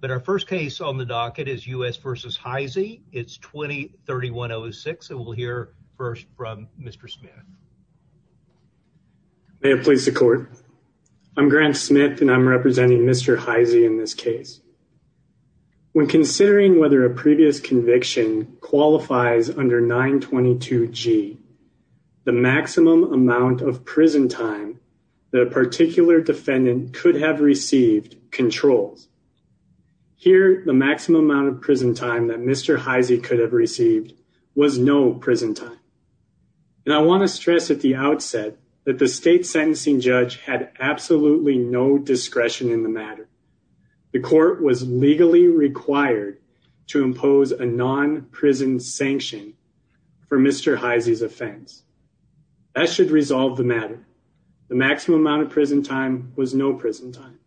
But our first case on the docket is U.S. v. Hisey. It's 20-3106 and we'll hear first from Mr. Smith. May it please the court. I'm Grant Smith and I'm representing Mr. Hisey in this case. When considering whether a previous conviction qualifies under 922 G, the maximum amount of prison time that a particular defendant could have received controls. Here, the maximum amount of prison time that Mr. Hisey could have received was no prison time. And I want to stress at the outset that the state sentencing judge had absolutely no discretion in the matter. The court was legally required to impose a non-prison sanction for Mr. Hisey's offense. That should resolve the matter. The maximum amount of prison time was no prison time.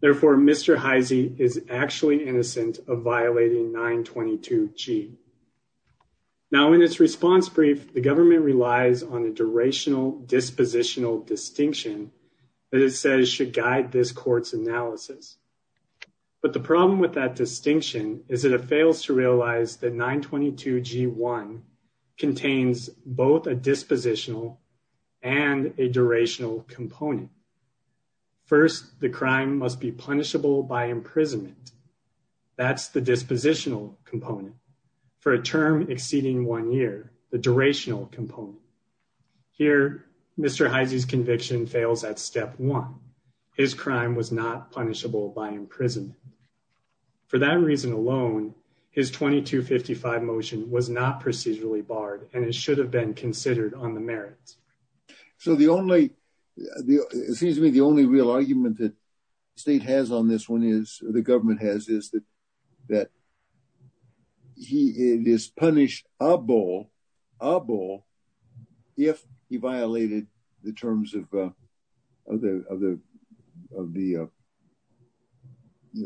Therefore, Mr. Hisey is actually innocent of violating 922 G. Now in its response brief, the government relies on a durational dispositional distinction that it says should guide this court's analysis. But the problem with that distinction is that it fails to realize that 922 G1 contains both a dispositional and a durational component. First, the crime must be punishable by imprisonment. That's the dispositional component. For a term exceeding one year, the durational component. Here, Mr. Hisey's conviction fails at step one. His crime was not punishable by imprisonment. For that reason alone, his 2255 motion was not procedurally barred and it should have been considered on the merits. So the only, excuse me, the only real argument that the state has on this one is, the government has, is that he is punished abo, abo, if he violated the terms of the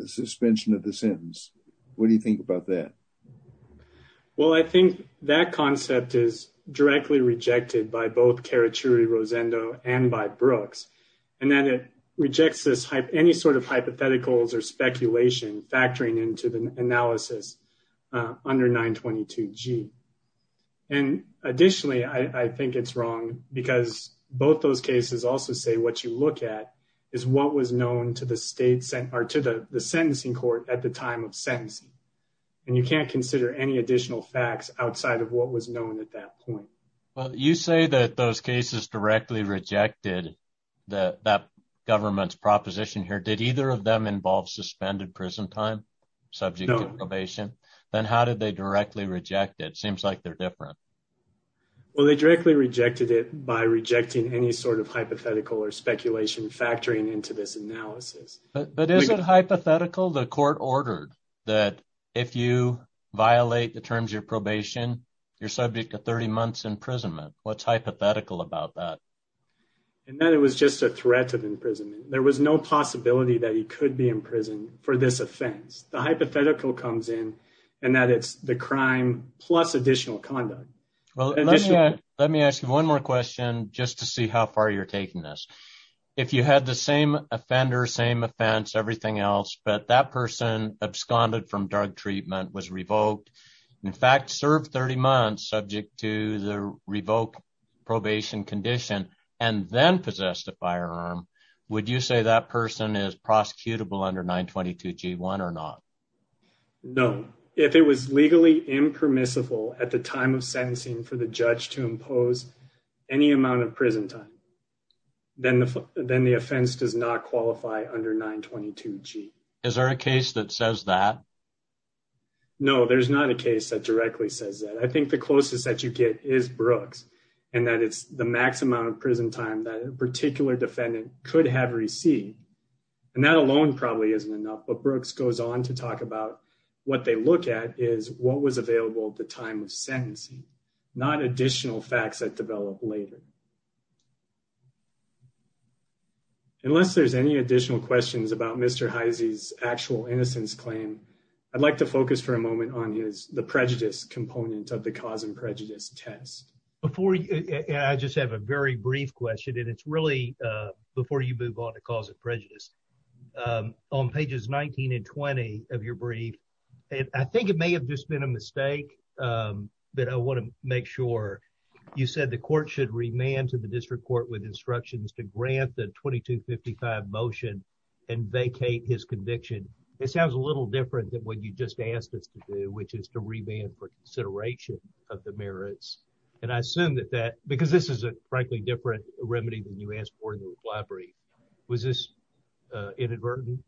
suspension of the sentence. What do you think about that? Well, I think that concept is directly rejected by both Carachuri-Rosendo and by Brooks. And then it rejects this, any sort of hypotheticals or speculation factoring into the analysis under 922 G. And additionally, I think it's wrong because both those cases also say what you look at is what was known to the state sent, or to the sentencing court at the time of sentencing. And you can't consider any additional facts outside of what was known at that point. Well, you say that those cases directly rejected that, that government's proposition here. Did either of them involve suspended prison time subject to probation? Then how did they directly reject it? It seems like they're different. Well, they directly rejected it by rejecting any sort of hypothetical or speculation factoring into this analysis. But is it hypothetical? The court ordered that if you violate the terms of probation, you're subject to 30 months imprisonment. What's hypothetical about that? And that it was just a threat of imprisonment. There was no possibility that he could be imprisoned for this offense. The hypothetical comes in and that it's the crime plus additional conduct. Well, let me ask you one more question just to see how far you're taking this. If you had the same offender, same offense, everything else, but that person absconded from drug treatment, was revoked, in fact, served 30 months subject to the revoked probation condition, and then possessed a firearm, would you say that person is prosecutable under 922 G1 or not? No. If it was legally impermissible at the time of sentencing for the judge to impose any amount of prison time, then the offense does not qualify under 922 G. Is there a case that says that? No, there's not a case that directly says that. I think the closest that you get is Brooks and that it's the max amount of prison time that a particular defendant could have received. And that alone probably isn't enough. But Brooks goes on to talk about what they look at is what was available at the time of sentencing, not additional facts that develop later. Unless there's any additional questions about Mr. Heisey's actual innocence claim, I'd like to focus for a moment on the prejudice component of the cause and prejudice test. I just have a very brief question, and it's really before you move on to cause of prejudice. On pages 19 and 20 of your brief, I think it may have just been a mistake, but I want to make sure you said the court should remand to the district court with instructions to grant the 2255 motion and vacate his conviction. It sounds a little different than what you just asked us to do, which is to remand consideration of the merits. And I assume that that because this is a frankly different remedy than you asked for in the library. Was this inadvertent?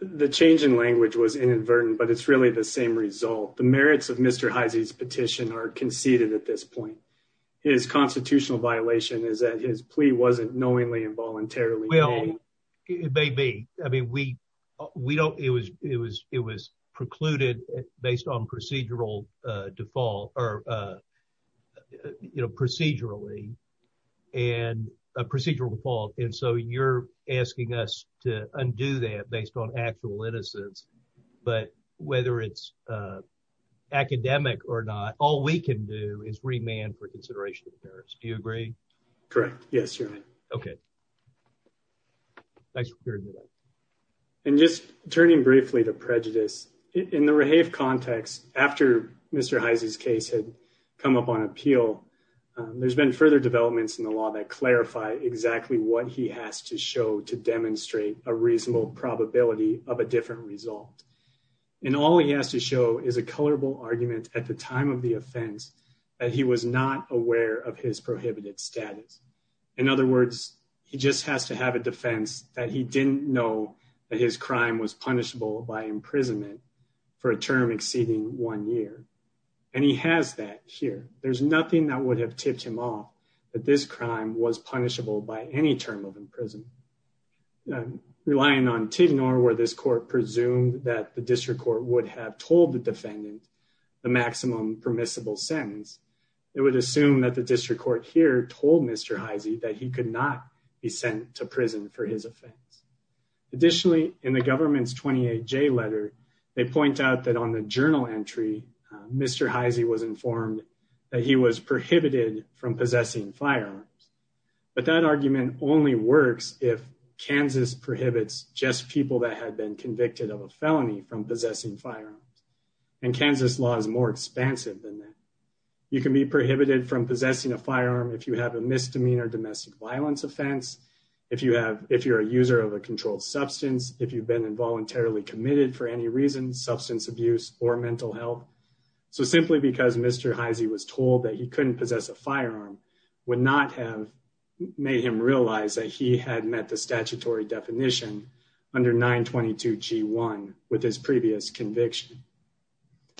The change in language was inadvertent, but it's really the same result. The merits of Mr. Heisey's petition are conceded at this point. His constitutional violation is that his plea wasn't knowingly and voluntarily. Well, it may be. I mean, we don't, it was precluded based on procedural default or procedurally and a procedural default. And so you're asking us to undo that based on actual innocence. But whether it's academic or not, all we can do is remand for consideration of the merits. Do you agree? Correct. Yes, you're right. Okay. Thanks for clearing it up. And just turning briefly to prejudice, in the Rehave context, after Mr. Heisey's case had come up on appeal, there's been further developments in the law that clarify exactly what he has to show to demonstrate a reasonable probability of a different result. And all he has to show is a colorable argument at the time of the offense that he was not aware of his prohibited status. In other words, he just has to have a defense that he didn't know that his crime was punishable by imprisonment for a term exceeding one year. And he has that here. There's nothing that would have tipped him off that this crime was punishable by any term of imprisonment. Relying on Tignor, where this court presumed that the district court would have told the defendant the maximum permissible sentence, it would assume that the district court here told Mr. Heisey that he could not be sent to prison for his offense. Additionally, in the government's 28J letter, they point out that on the journal entry, Mr. Heisey was informed that he was prohibited from possessing firearms. But that argument only works if Kansas prohibits just people that had been convicted of a felony from possessing firearms. And Kansas law is more expansive than that. You can be prohibited from possessing a firearm if you have a misdemeanor domestic violence offense, if you're a user of a controlled substance, if you've been involuntarily committed for any reason, substance abuse, or mental health. So simply because Mr. Heisey was told that he couldn't possess a firearm would not have made him realize that he had met the statutory definition under 922 G1 with his previous conviction.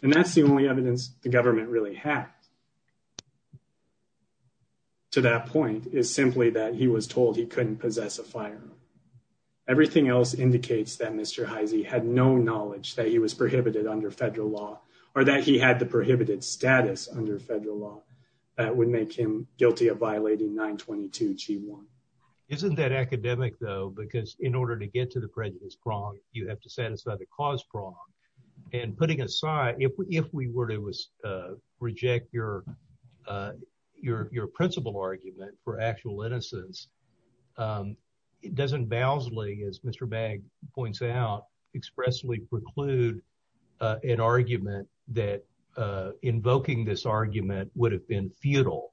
And that's the only evidence the government really had to that point is simply that he was told he couldn't possess a firearm. Everything else indicates that Mr. Heisey had no knowledge that he was prohibited under federal law or that he had the prohibited status under federal law. That would make him guilty of violating 922 G1. Isn't that academic though, because in order to get to the prejudice prong, you have to satisfy the cause prong. And putting aside, if we were to reject your principal argument for actual innocence, it doesn't vowsly, as Mr. Bagg points out, expressly preclude an argument that invoking this argument would have been futile.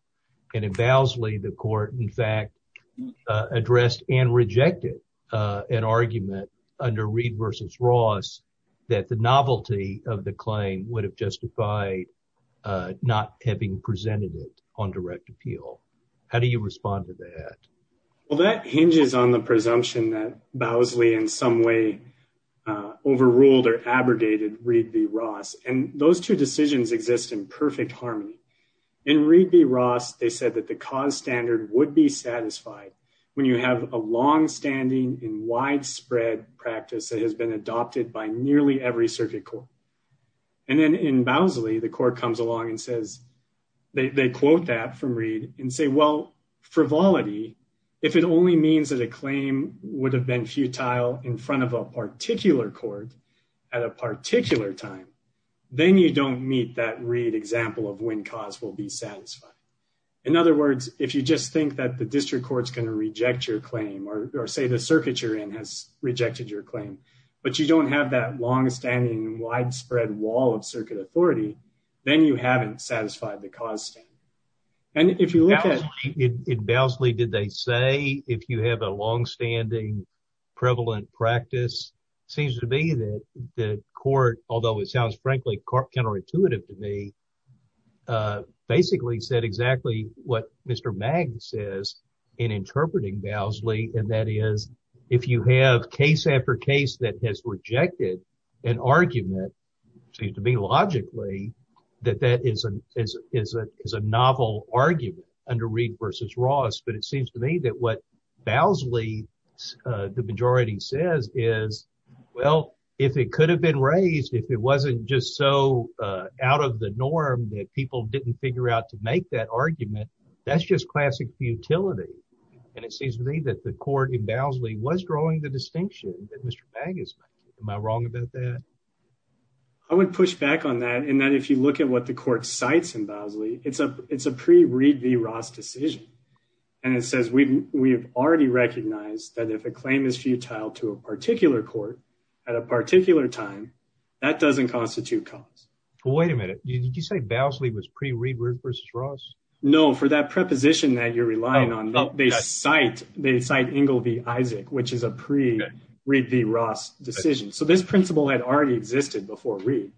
And it vowsly, the court, in fact, addressed and rejected an argument under Reed versus Ross that the novelty of the claim would have justified not having presented it on direct appeal. How do you respond to that? Well, that hinges on the presumption that vowsly in some way overruled or abrogated Reed v. Ross. And those two decisions exist in perfect harmony. In Reed v. Ross, they said that the cause standard would be satisfied when you have a longstanding and and then in vowsly, the court comes along and says, they quote that from Reed and say, well, frivolity, if it only means that a claim would have been futile in front of a particular court at a particular time, then you don't meet that Reed example of when cause will be satisfied. In other words, if you just think that the district court is going to reject your claim or say the circuit you're in has rejected your claim, but you don't have that longstanding widespread wall of circuit authority, then you haven't satisfied the cause. And if you look at it, vowsly, did they say if you have a longstanding prevalent practice seems to be that the court, although it sounds frankly counterintuitive to me, basically said exactly what Mr. Magg says in interpreting vowsly. And that is if you have case after case that has rejected an argument seems to be logically that that is a novel argument under Reed v. Ross. But it seems to me that what vowsly, the majority says is, well, if it could have been raised, if it wasn't just so out of the norm that people didn't figure out to make that argument, that's just classic futility. And it seems to me that the court in vowsly was drawing the distinction that Mr. Magg is making. Am I wrong about that? I would push back on that. And then if you look at what the court cites in vowsly, it's a, it's a pre Reed v. Ross decision. And it says, we've already recognized that if a claim is futile to a particular court at a particular time, that doesn't constitute cause. Well, wait a minute. Did you say vowsly was pre Reed versus Ross? No, for that preposition that you're relying on, they cite, they cite Ingle v. Isaac, which is a pre Reed v. Ross decision. So this principle had already existed before Reed,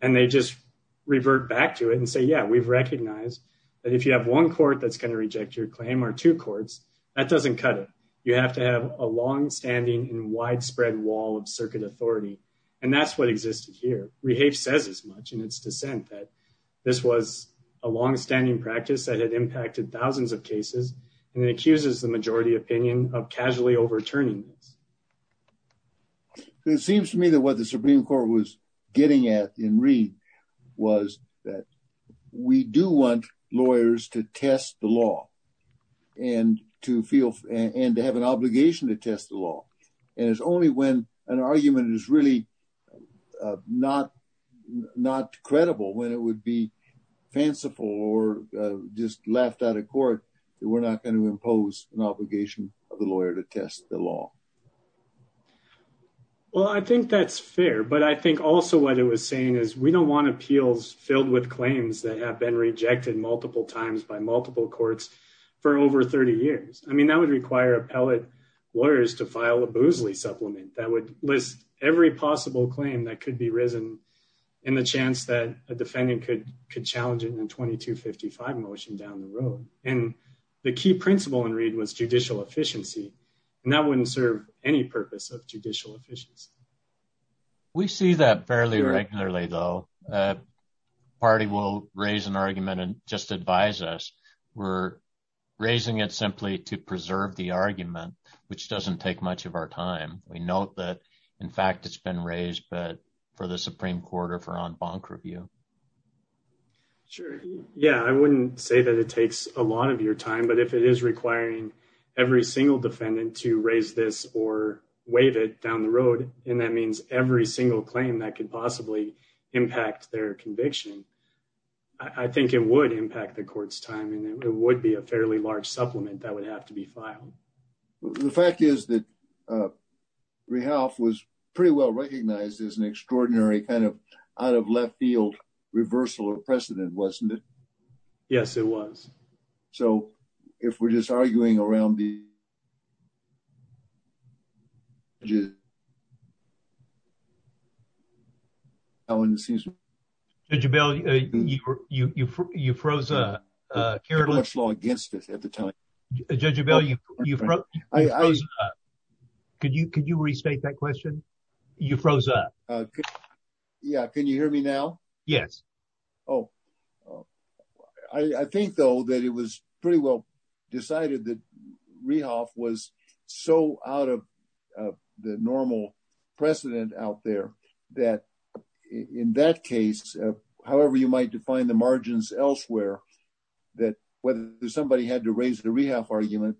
and they just revert back to it and say, yeah, we've recognized that if you have one court that's going to reject your claim or two courts, that doesn't cut it. You have to have a longstanding and widespread wall of circuit authority. And that's what existed here. Rehafe says as much in its dissent that this was a longstanding practice that had impacted thousands of cases. And it accuses the majority opinion of casually overturning. It seems to me that what the Supreme court was getting at in Reed was that we do want lawyers to test the law and to feel and to have an obligation to test the law. And it's only when an argument is really not not credible when it would be fanciful or just left out of court that we're not going to impose an obligation of the lawyer to test the law. Well, I think that's fair, but I think also what it was saying is we don't want appeals filled with claims that have been rejected multiple times by multiple courts for over 30 years. I mean, that would require appellate lawyers to file a supplement that would list every possible claim that could be risen in the chance that a defendant could challenge it in a 2255 motion down the road. And the key principle in Reed was judicial efficiency. And that wouldn't serve any purpose of judicial efficiency. We see that fairly regularly, though. Party will raise an argument and just advise us. We're raising it simply to preserve the argument, which doesn't take much of our time. We know that, in fact, it's been raised, but for the Supreme Court or for on bonk review. Sure. Yeah, I wouldn't say that it takes a lot of your time, but if it is requiring every single defendant to raise this or wave it down the road, and that means every single claim that could possibly impact their conviction. I think it would impact the court's time, and it would be a fairly large supplement that would have to be filed. The fact is that rehab was pretty well recognized as an extraordinary kind of out of left field reversal or precedent, wasn't it? Yes, it was. So if we're just arguing around the. How in the season did you bail you? You froze up against it at the time. Could you could you restate that question? You froze up. Yeah. Can you hear me now? Yes. Oh, oh, I think, though, that it was pretty well decided that rehab was so out of the normal precedent out there that in that case, however, you might define the margins elsewhere, that whether somebody had to raise the rehab argument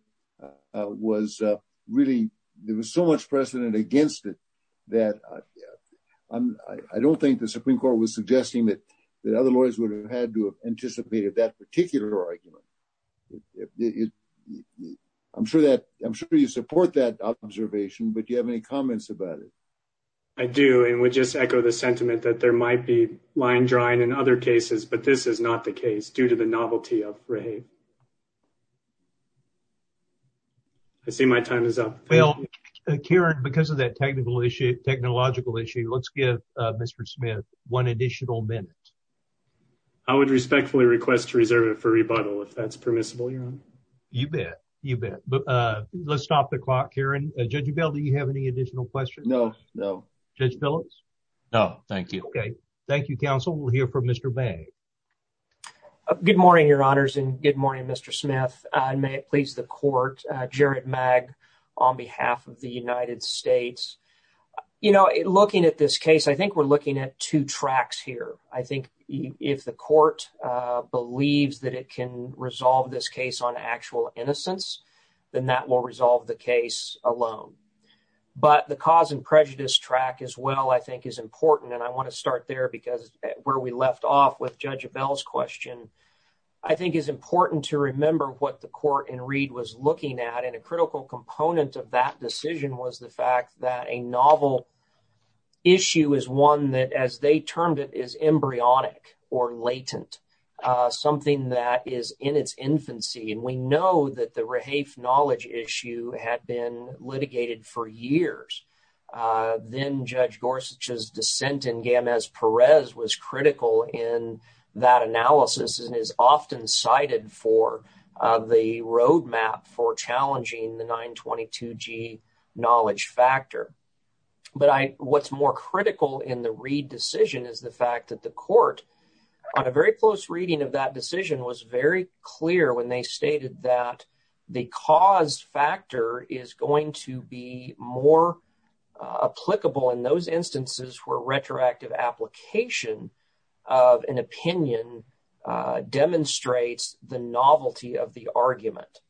was really there was so much precedent against it that I don't think the Supreme Court was suggesting that other lawyers would have had to have anticipated that particular argument. I'm sure that I'm sure you support that observation, but do you have any comments about it? I do, and we just echo the sentiment that there might be line drawing in other cases, but this is not the case due to the novelty of rehab. I see my time is up. Well, Karen, because of that technical issue, technological issue, let's give Mr. Smith one additional minute. I would respectfully request to reserve it for rebuttal if that's permissible. You bet. You bet. But let's stop the clock here. And Judge Bell, do you have any additional questions? No, no. Judge Phillips. No, thank you. Okay. Thank you, counsel. We'll hear from Mr. Bagg. Good morning, your honors, and good morning, Mr. Smith. May it please the court. Jared Magg on behalf of the United States. You know, looking at this case, I think we're looking at two tracks here. I think if the court believes that it can resolve this case on actual innocence, then that will resolve the case alone. But the cause and prejudice track as well, I think, is important. And I want to start there because where we left off with Judge Bell's question, I think it's important to remember what the court in Reed was looking at. And a critical component of that decision was the fact that a novel issue is one that, as they termed it, is embryonic or latent, something that is in its infancy. And we know that the Rehafe knowledge issue had been litigated for years. Then Judge Gorsuch's dissent in Gamez-Perez was critical in that analysis and is often cited for the roadmap for challenging the 922G knowledge factor. But what's more critical in the Reed decision is the court, on a very close reading of that decision, was very clear when they stated that the cause factor is going to be more applicable in those instances where retroactive application of an opinion demonstrates the novelty of the argument.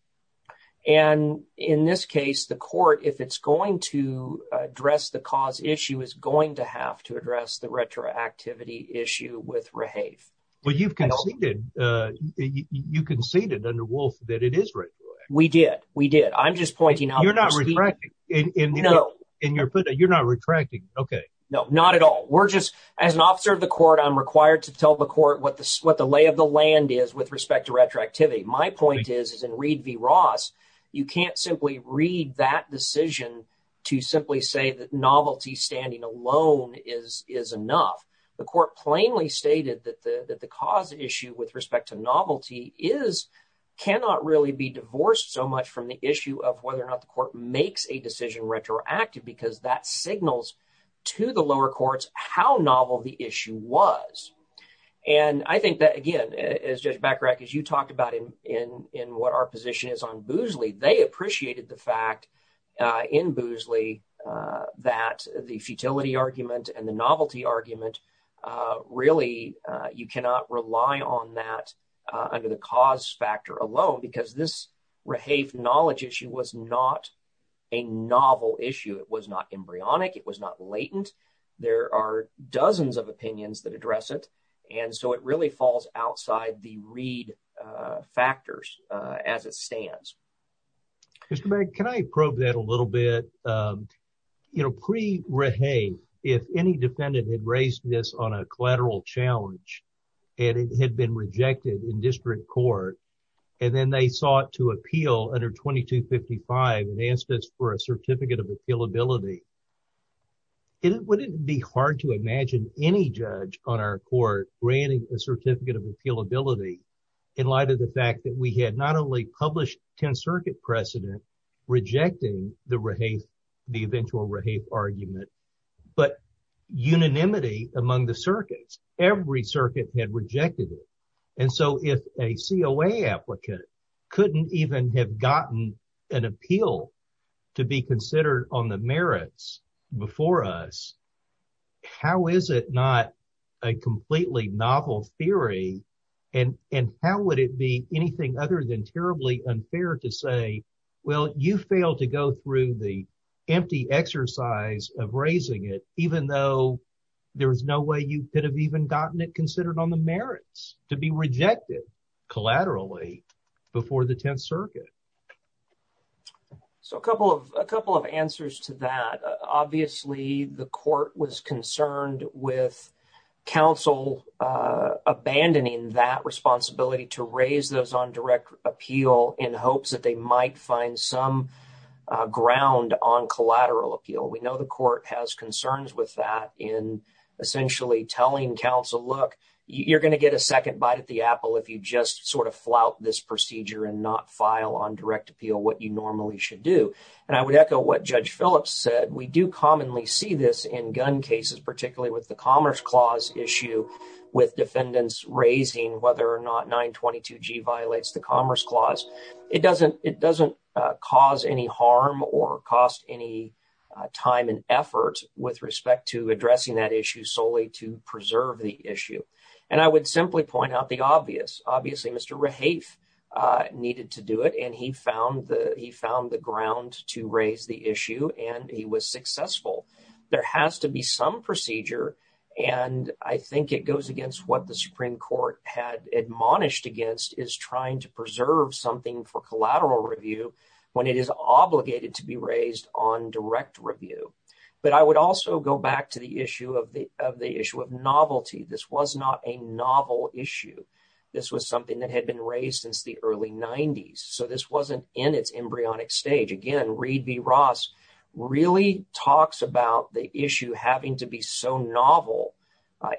And in this case, the court, if it's going to have to address the retroactivity issue with Rehafe. But you've conceded, you conceded under Wolf that it is retroactive. We did. We did. I'm just pointing out. You're not retracting. No. You're not retracting. Okay. No, not at all. We're just, as an officer of the court, I'm required to tell the court what the lay of the land is with respect to retroactivity. My point is, is in Reed v. Ross, you can't simply read that decision to simply say that novelty standing alone is enough. The court plainly stated that the cause issue with respect to novelty is, cannot really be divorced so much from the issue of whether or not the court makes a decision retroactive because that signals to the lower courts how novel the issue was. And I think that, again, as Judge Bacharach, as you talked about in what our position is on Boozley, they appreciated the fact in Boozley that the futility argument and the novelty argument, really, you cannot rely on that under the cause factor alone because this Rehafe knowledge issue was not a novel issue. It was not embryonic. It was not latent. There are dozens of opinions that address it. And so it really falls outside the Reed factors as it stands. Mr. Mack, can I probe that a little bit? You know, pre-Rehafe, if any defendant had raised this on a collateral challenge and it had been rejected in district court and then they sought to appeal under 2255 and asked us for a certificate of appealability, wouldn't it be hard to imagine any judge on our court granting a certificate of appealability in light of the fact that we had not only published 10 circuit precedent rejecting the Rehafe, the eventual Rehafe argument, but unanimity among the circuits, every circuit had rejected it. And so if a COA applicant couldn't even have gotten an appeal to be considered on the merits before us, how is it not a completely novel theory? And how would it be anything other than terribly unfair to say, well, you failed to go through the empty exercise of raising it, even though there was no way you could have even gotten it considered on the merits to be rejected collaterally before the 10th circuit. So a couple of answers to that. Obviously, the court was concerned with counsel abandoning that responsibility to raise those on direct appeal in hopes that they might find some ground on collateral appeal. We know the court has concerns with that in essentially telling counsel, look, you're going to get a second bite at the apple if you just sort of not file on direct appeal what you normally should do. And I would echo what Judge Phillips said. We do commonly see this in gun cases, particularly with the Commerce Clause issue with defendants raising whether or not 922G violates the Commerce Clause. It doesn't cause any harm or cost any time and effort with respect to addressing that issue solely to preserve the needed to do it. And he found the ground to raise the issue, and he was successful. There has to be some procedure. And I think it goes against what the Supreme Court had admonished against is trying to preserve something for collateral review when it is obligated to be raised on direct review. But I would also go back to the issue of novelty. This was not a novel issue. This was something that had been raised since the early 90s. So this wasn't in its embryonic stage. Again, Reed v. Ross really talks about the issue having to be so novel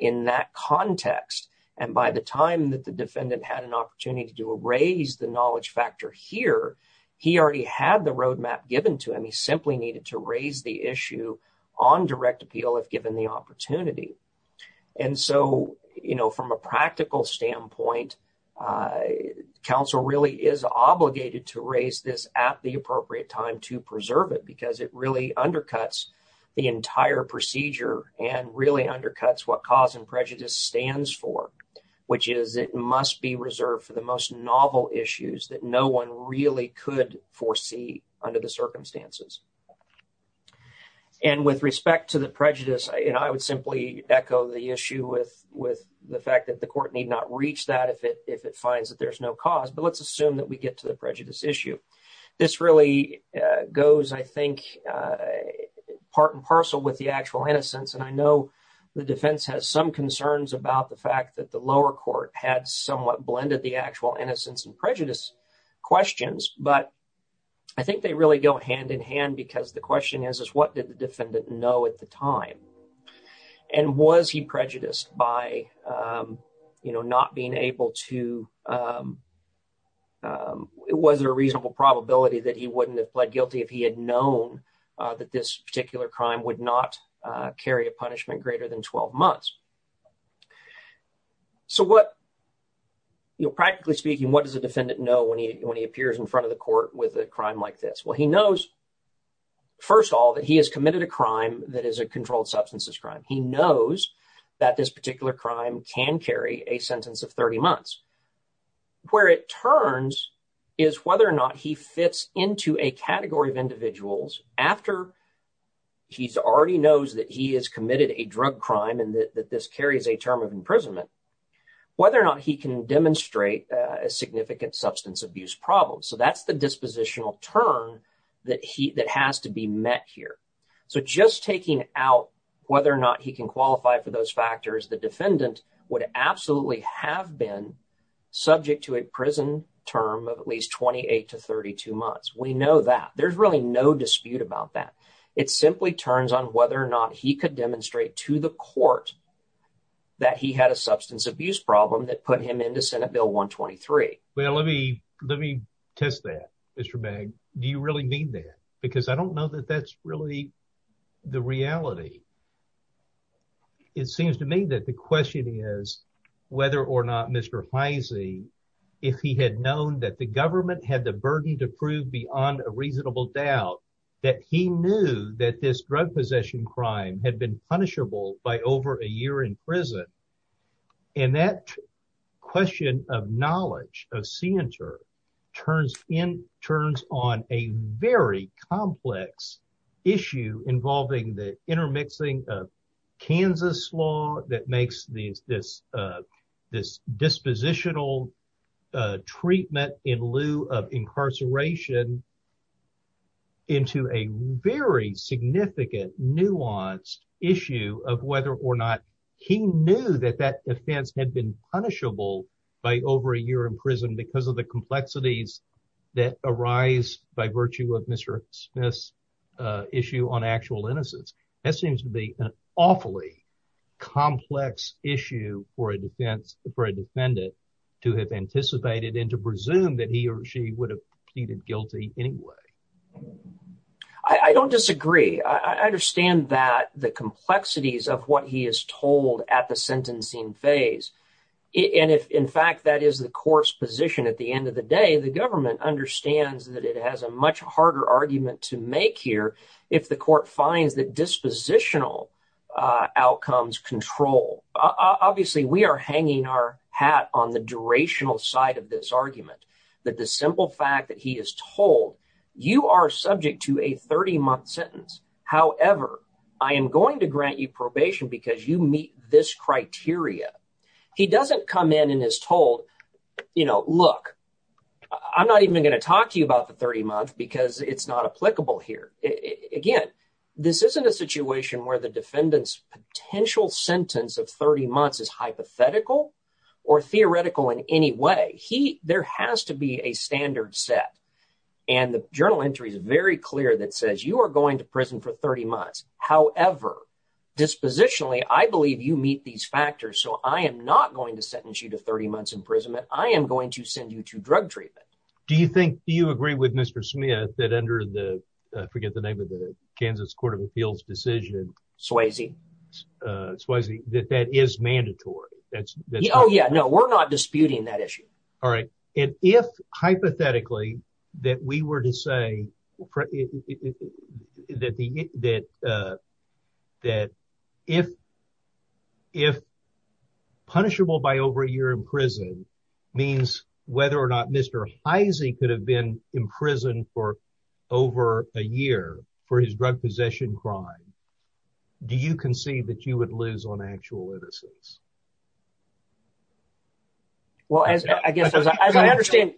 in that context. And by the time that the defendant had an opportunity to raise the knowledge factor here, he already had the roadmap given to him. He simply needed to raise the issue on direct appeal if given the opportunity. And so, you know, from a practical standpoint, counsel really is obligated to raise this at the appropriate time to preserve it because it really undercuts the entire procedure and really undercuts what cause and prejudice stands for, which is it must be reserved for the most novel issues that no one really could foresee under the circumstances. And with respect to the prejudice, you know, I would simply echo the issue with the fact that the court need not reach that if it finds that there's no cause. But let's assume that we get to the prejudice issue. This really goes, I think, part and parcel with the actual innocence. And I know the defense has some concerns about the fact that the lower court had somewhat blended the actual innocence and prejudice questions, but I think they really go hand in hand because the question is what did the defendant know at the time? And was he prejudiced by, you know, not being able to, was there a reasonable probability that he wouldn't have pled guilty if he had known that this particular crime would not carry a punishment greater than 12 months? So what, you know, practically speaking, what does a defendant know when he when he appears in front of the court with a crime like this? Well, he knows, first of all, that he has committed a crime that is a controlled substances crime. He knows that this particular crime can carry a sentence of 30 months. Where it turns is whether or not he fits into a category of individuals after he already knows that he has committed a drug crime and that this carries a term of imprisonment, whether or not he can demonstrate a significant substance abuse problem. So that's the dispositional term that has to be met here. So just taking out whether or not he can qualify for those factors, the defendant would absolutely have been subject to a prison term of at least 28 to 32 months. We know that. There's really no dispute about that. It simply turns on whether or not he could demonstrate to the court that he had a substance abuse problem that put him into Senate Bill 123. Well, let me test that, Mr. Begg. Do you really mean that? Because I don't know that that's really the reality. It seems to me that the question is whether or not Mr. Heise, if he had known that the government had the burden to prove beyond a reasonable doubt that he knew that this drug possession crime had been punishable by over a year in prison. And that question of knowledge, of scienter, turns on a very complex issue involving the intermixing of Kansas law that makes this dispositional treatment in lieu of incarceration into a very significant nuanced issue of whether or not he knew that that defense had been punishable by over a year in prison because of the complexities that arise by virtue of Mr. Smith's issue on actual innocence. That seems to be an awfully complex issue for a defense for a defendant to have anticipated and to presume that he or she would have pleaded guilty anyway. I don't disagree. I understand that the complexities of what he is told at the sentencing phase, and if in fact that is the court's position at the end of the day, the government understands that it has a much harder argument to make here if the court finds that dispositional outcomes control. Obviously, we are hanging our hat on the durational side of this argument, that the simple fact that he is told, you are subject to a 30-month sentence. However, I am going to grant you probation because you meet this criteria. He doesn't come in and is told, you know, look, I'm not even going to talk to you about the 30 months because it's not applicable here. Again, this isn't a situation where the defendant's potential sentence of 30 months is hypothetical or theoretical in any way. There has to be a standard set, and the journal entry is clear that says you are going to prison for 30 months. However, dispositionally, I believe you meet these factors, so I am not going to sentence you to 30 months imprisonment. I am going to send you to drug treatment. Do you think, do you agree with Mr. Smith that under the, I forget the name of it, Kansas Court of Appeals decision? Swayze. Swayze, that that is mandatory? Oh yeah, no, we're not disputing that issue. All right, and if hypothetically that we were to say that if punishable by over a year in prison means whether or not Mr. Heise could have been imprisoned for over a year for his drug possession crime, do you concede that you lose on actual innocence? Well, I guess as I understand,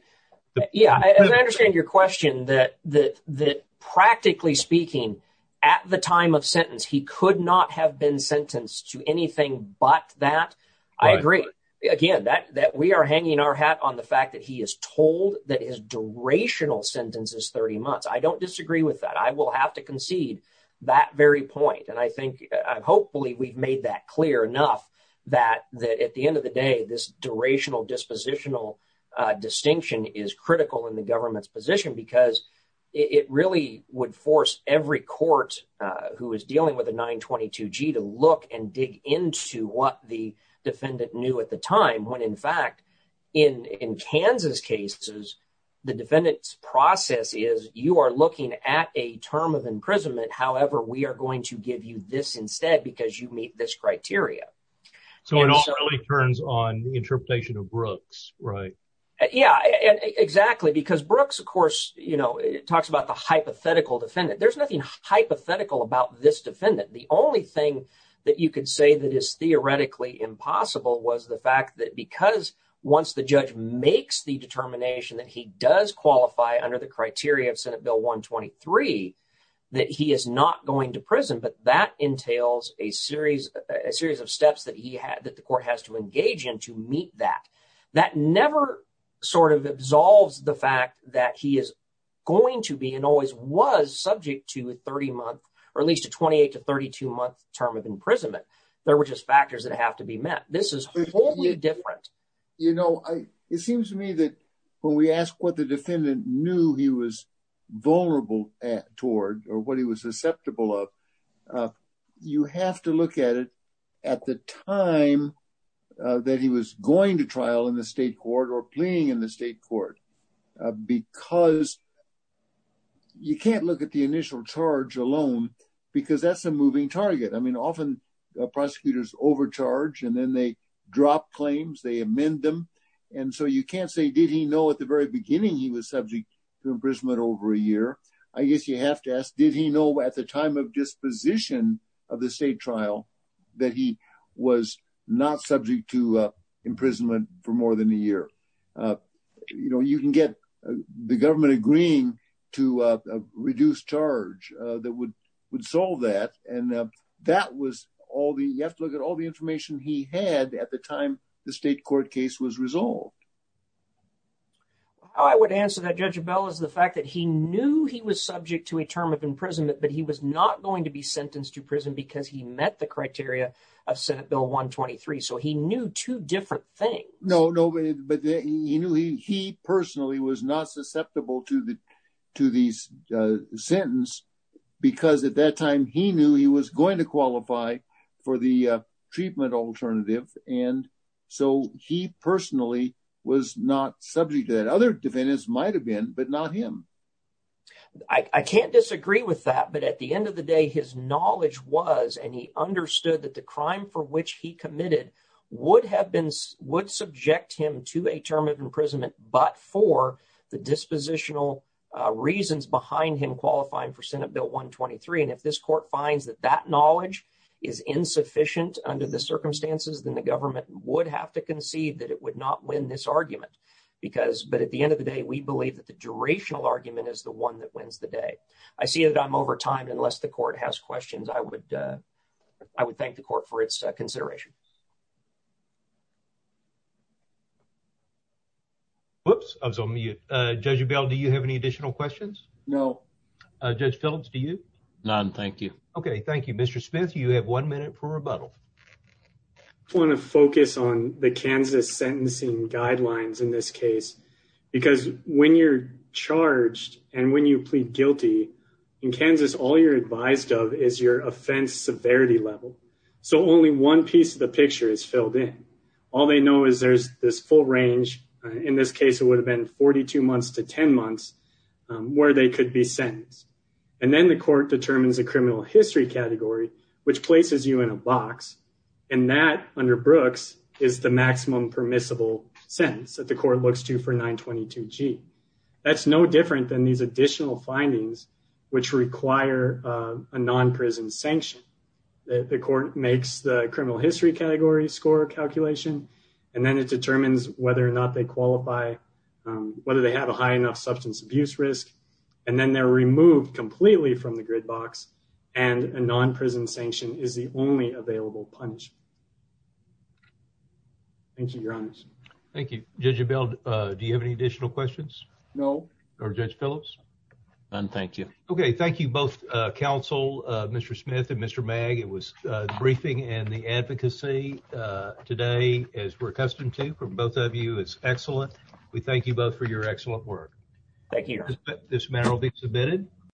yeah, as I understand your question, that practically speaking at the time of sentence he could not have been sentenced to anything but that, I agree. Again, that we are hanging our hat on the fact that he is told that his durational sentence is 30 months. I don't disagree with that. I will have to concede that very point, and I think hopefully we've made that clear enough that at the end of the day this durational dispositional distinction is critical in the government's position because it really would force every court who is dealing with a 922g to look and dig into what the defendant knew at the time when in fact in Kansas cases the defendant's process is you are looking at a term of imprisonment however we are going to give you this instead because you meet this criteria. So it all really turns on the interpretation of Brooks, right? Yeah, exactly, because Brooks of course, you know, talks about the hypothetical defendant. There's nothing hypothetical about this defendant. The only thing that you could say that is theoretically impossible was the fact that because once the judge makes the determination that he does qualify under the criteria of Senate Bill 123 that he is not going to prison, but that entails a series of steps that he had that the court has to engage in to meet that. That never sort of absolves the fact that he is going to be and always was subject to a 30-month or at least a 28 to 32-month term of imprisonment. There were just factors that have to be met. This is wholly different. You know, it seems to me that when we ask what the defendant knew he was vulnerable toward or what he was susceptible of, you have to look at it at the time that he was going to trial in the state court or pleading in the state court because you can't look at the initial charge alone because that's a moving target. I mean, often prosecutors overcharge and then they drop claims, they amend them, and so you can't say did he know at the very beginning he was subject to imprisonment over a year. I guess you have to ask, did he know at the time of disposition of the state trial that he was not subject to imprisonment for more than a year? You know, you can get the government agreeing to a reduced charge that would would solve that and that was all the, you have to look at all the information he had at the time the state court case was resolved. How I would answer that, Judge Bell, is the fact that he knew he was subject to a term of imprisonment but he was not going to be sentenced to prison because he met the criteria of Senate Bill 123, so he knew two different things. No, no, but he knew he personally was not susceptible to the to the sentence because at that time he knew he was so he personally was not subject to that. Other defendants might have been but not him. I can't disagree with that but at the end of the day his knowledge was and he understood that the crime for which he committed would have been would subject him to a term of imprisonment but for the dispositional reasons behind him qualifying for Senate Bill 123 and if this court finds that that would not win this argument because but at the end of the day we believe that the durational argument is the one that wins the day. I see that I'm over time unless the court has questions I would thank the court for its consideration. Whoops, I was on mute. Judge Bell, do you have any additional questions? No. Judge Phillips, do you? None, thank you. Okay, thank you. Mr. Smith, you have one minute for rebuttal. I want to focus on the Kansas sentencing guidelines in this case because when you're charged and when you plead guilty in Kansas all you're advised of is your offense severity level so only one piece of the picture is filled in. All they know is there's this full range in this case it would have been 42 months to 10 months where they could be sentenced and then the and that under Brooks is the maximum permissible sentence that the court looks to for 922g. That's no different than these additional findings which require a non-prison sanction. The court makes the criminal history category score calculation and then it determines whether or not they qualify whether they have a high enough substance abuse risk and then they're charged. Thank you, your honor. Thank you. Judge Bell, do you have any additional questions? No. Or Judge Phillips? None, thank you. Okay, thank you both counsel, Mr. Smith and Mr. Magg. It was the briefing and the advocacy today as we're accustomed to from both of you is excellent. We thank you both for your excellent work. Thank you. This matter will be submitted.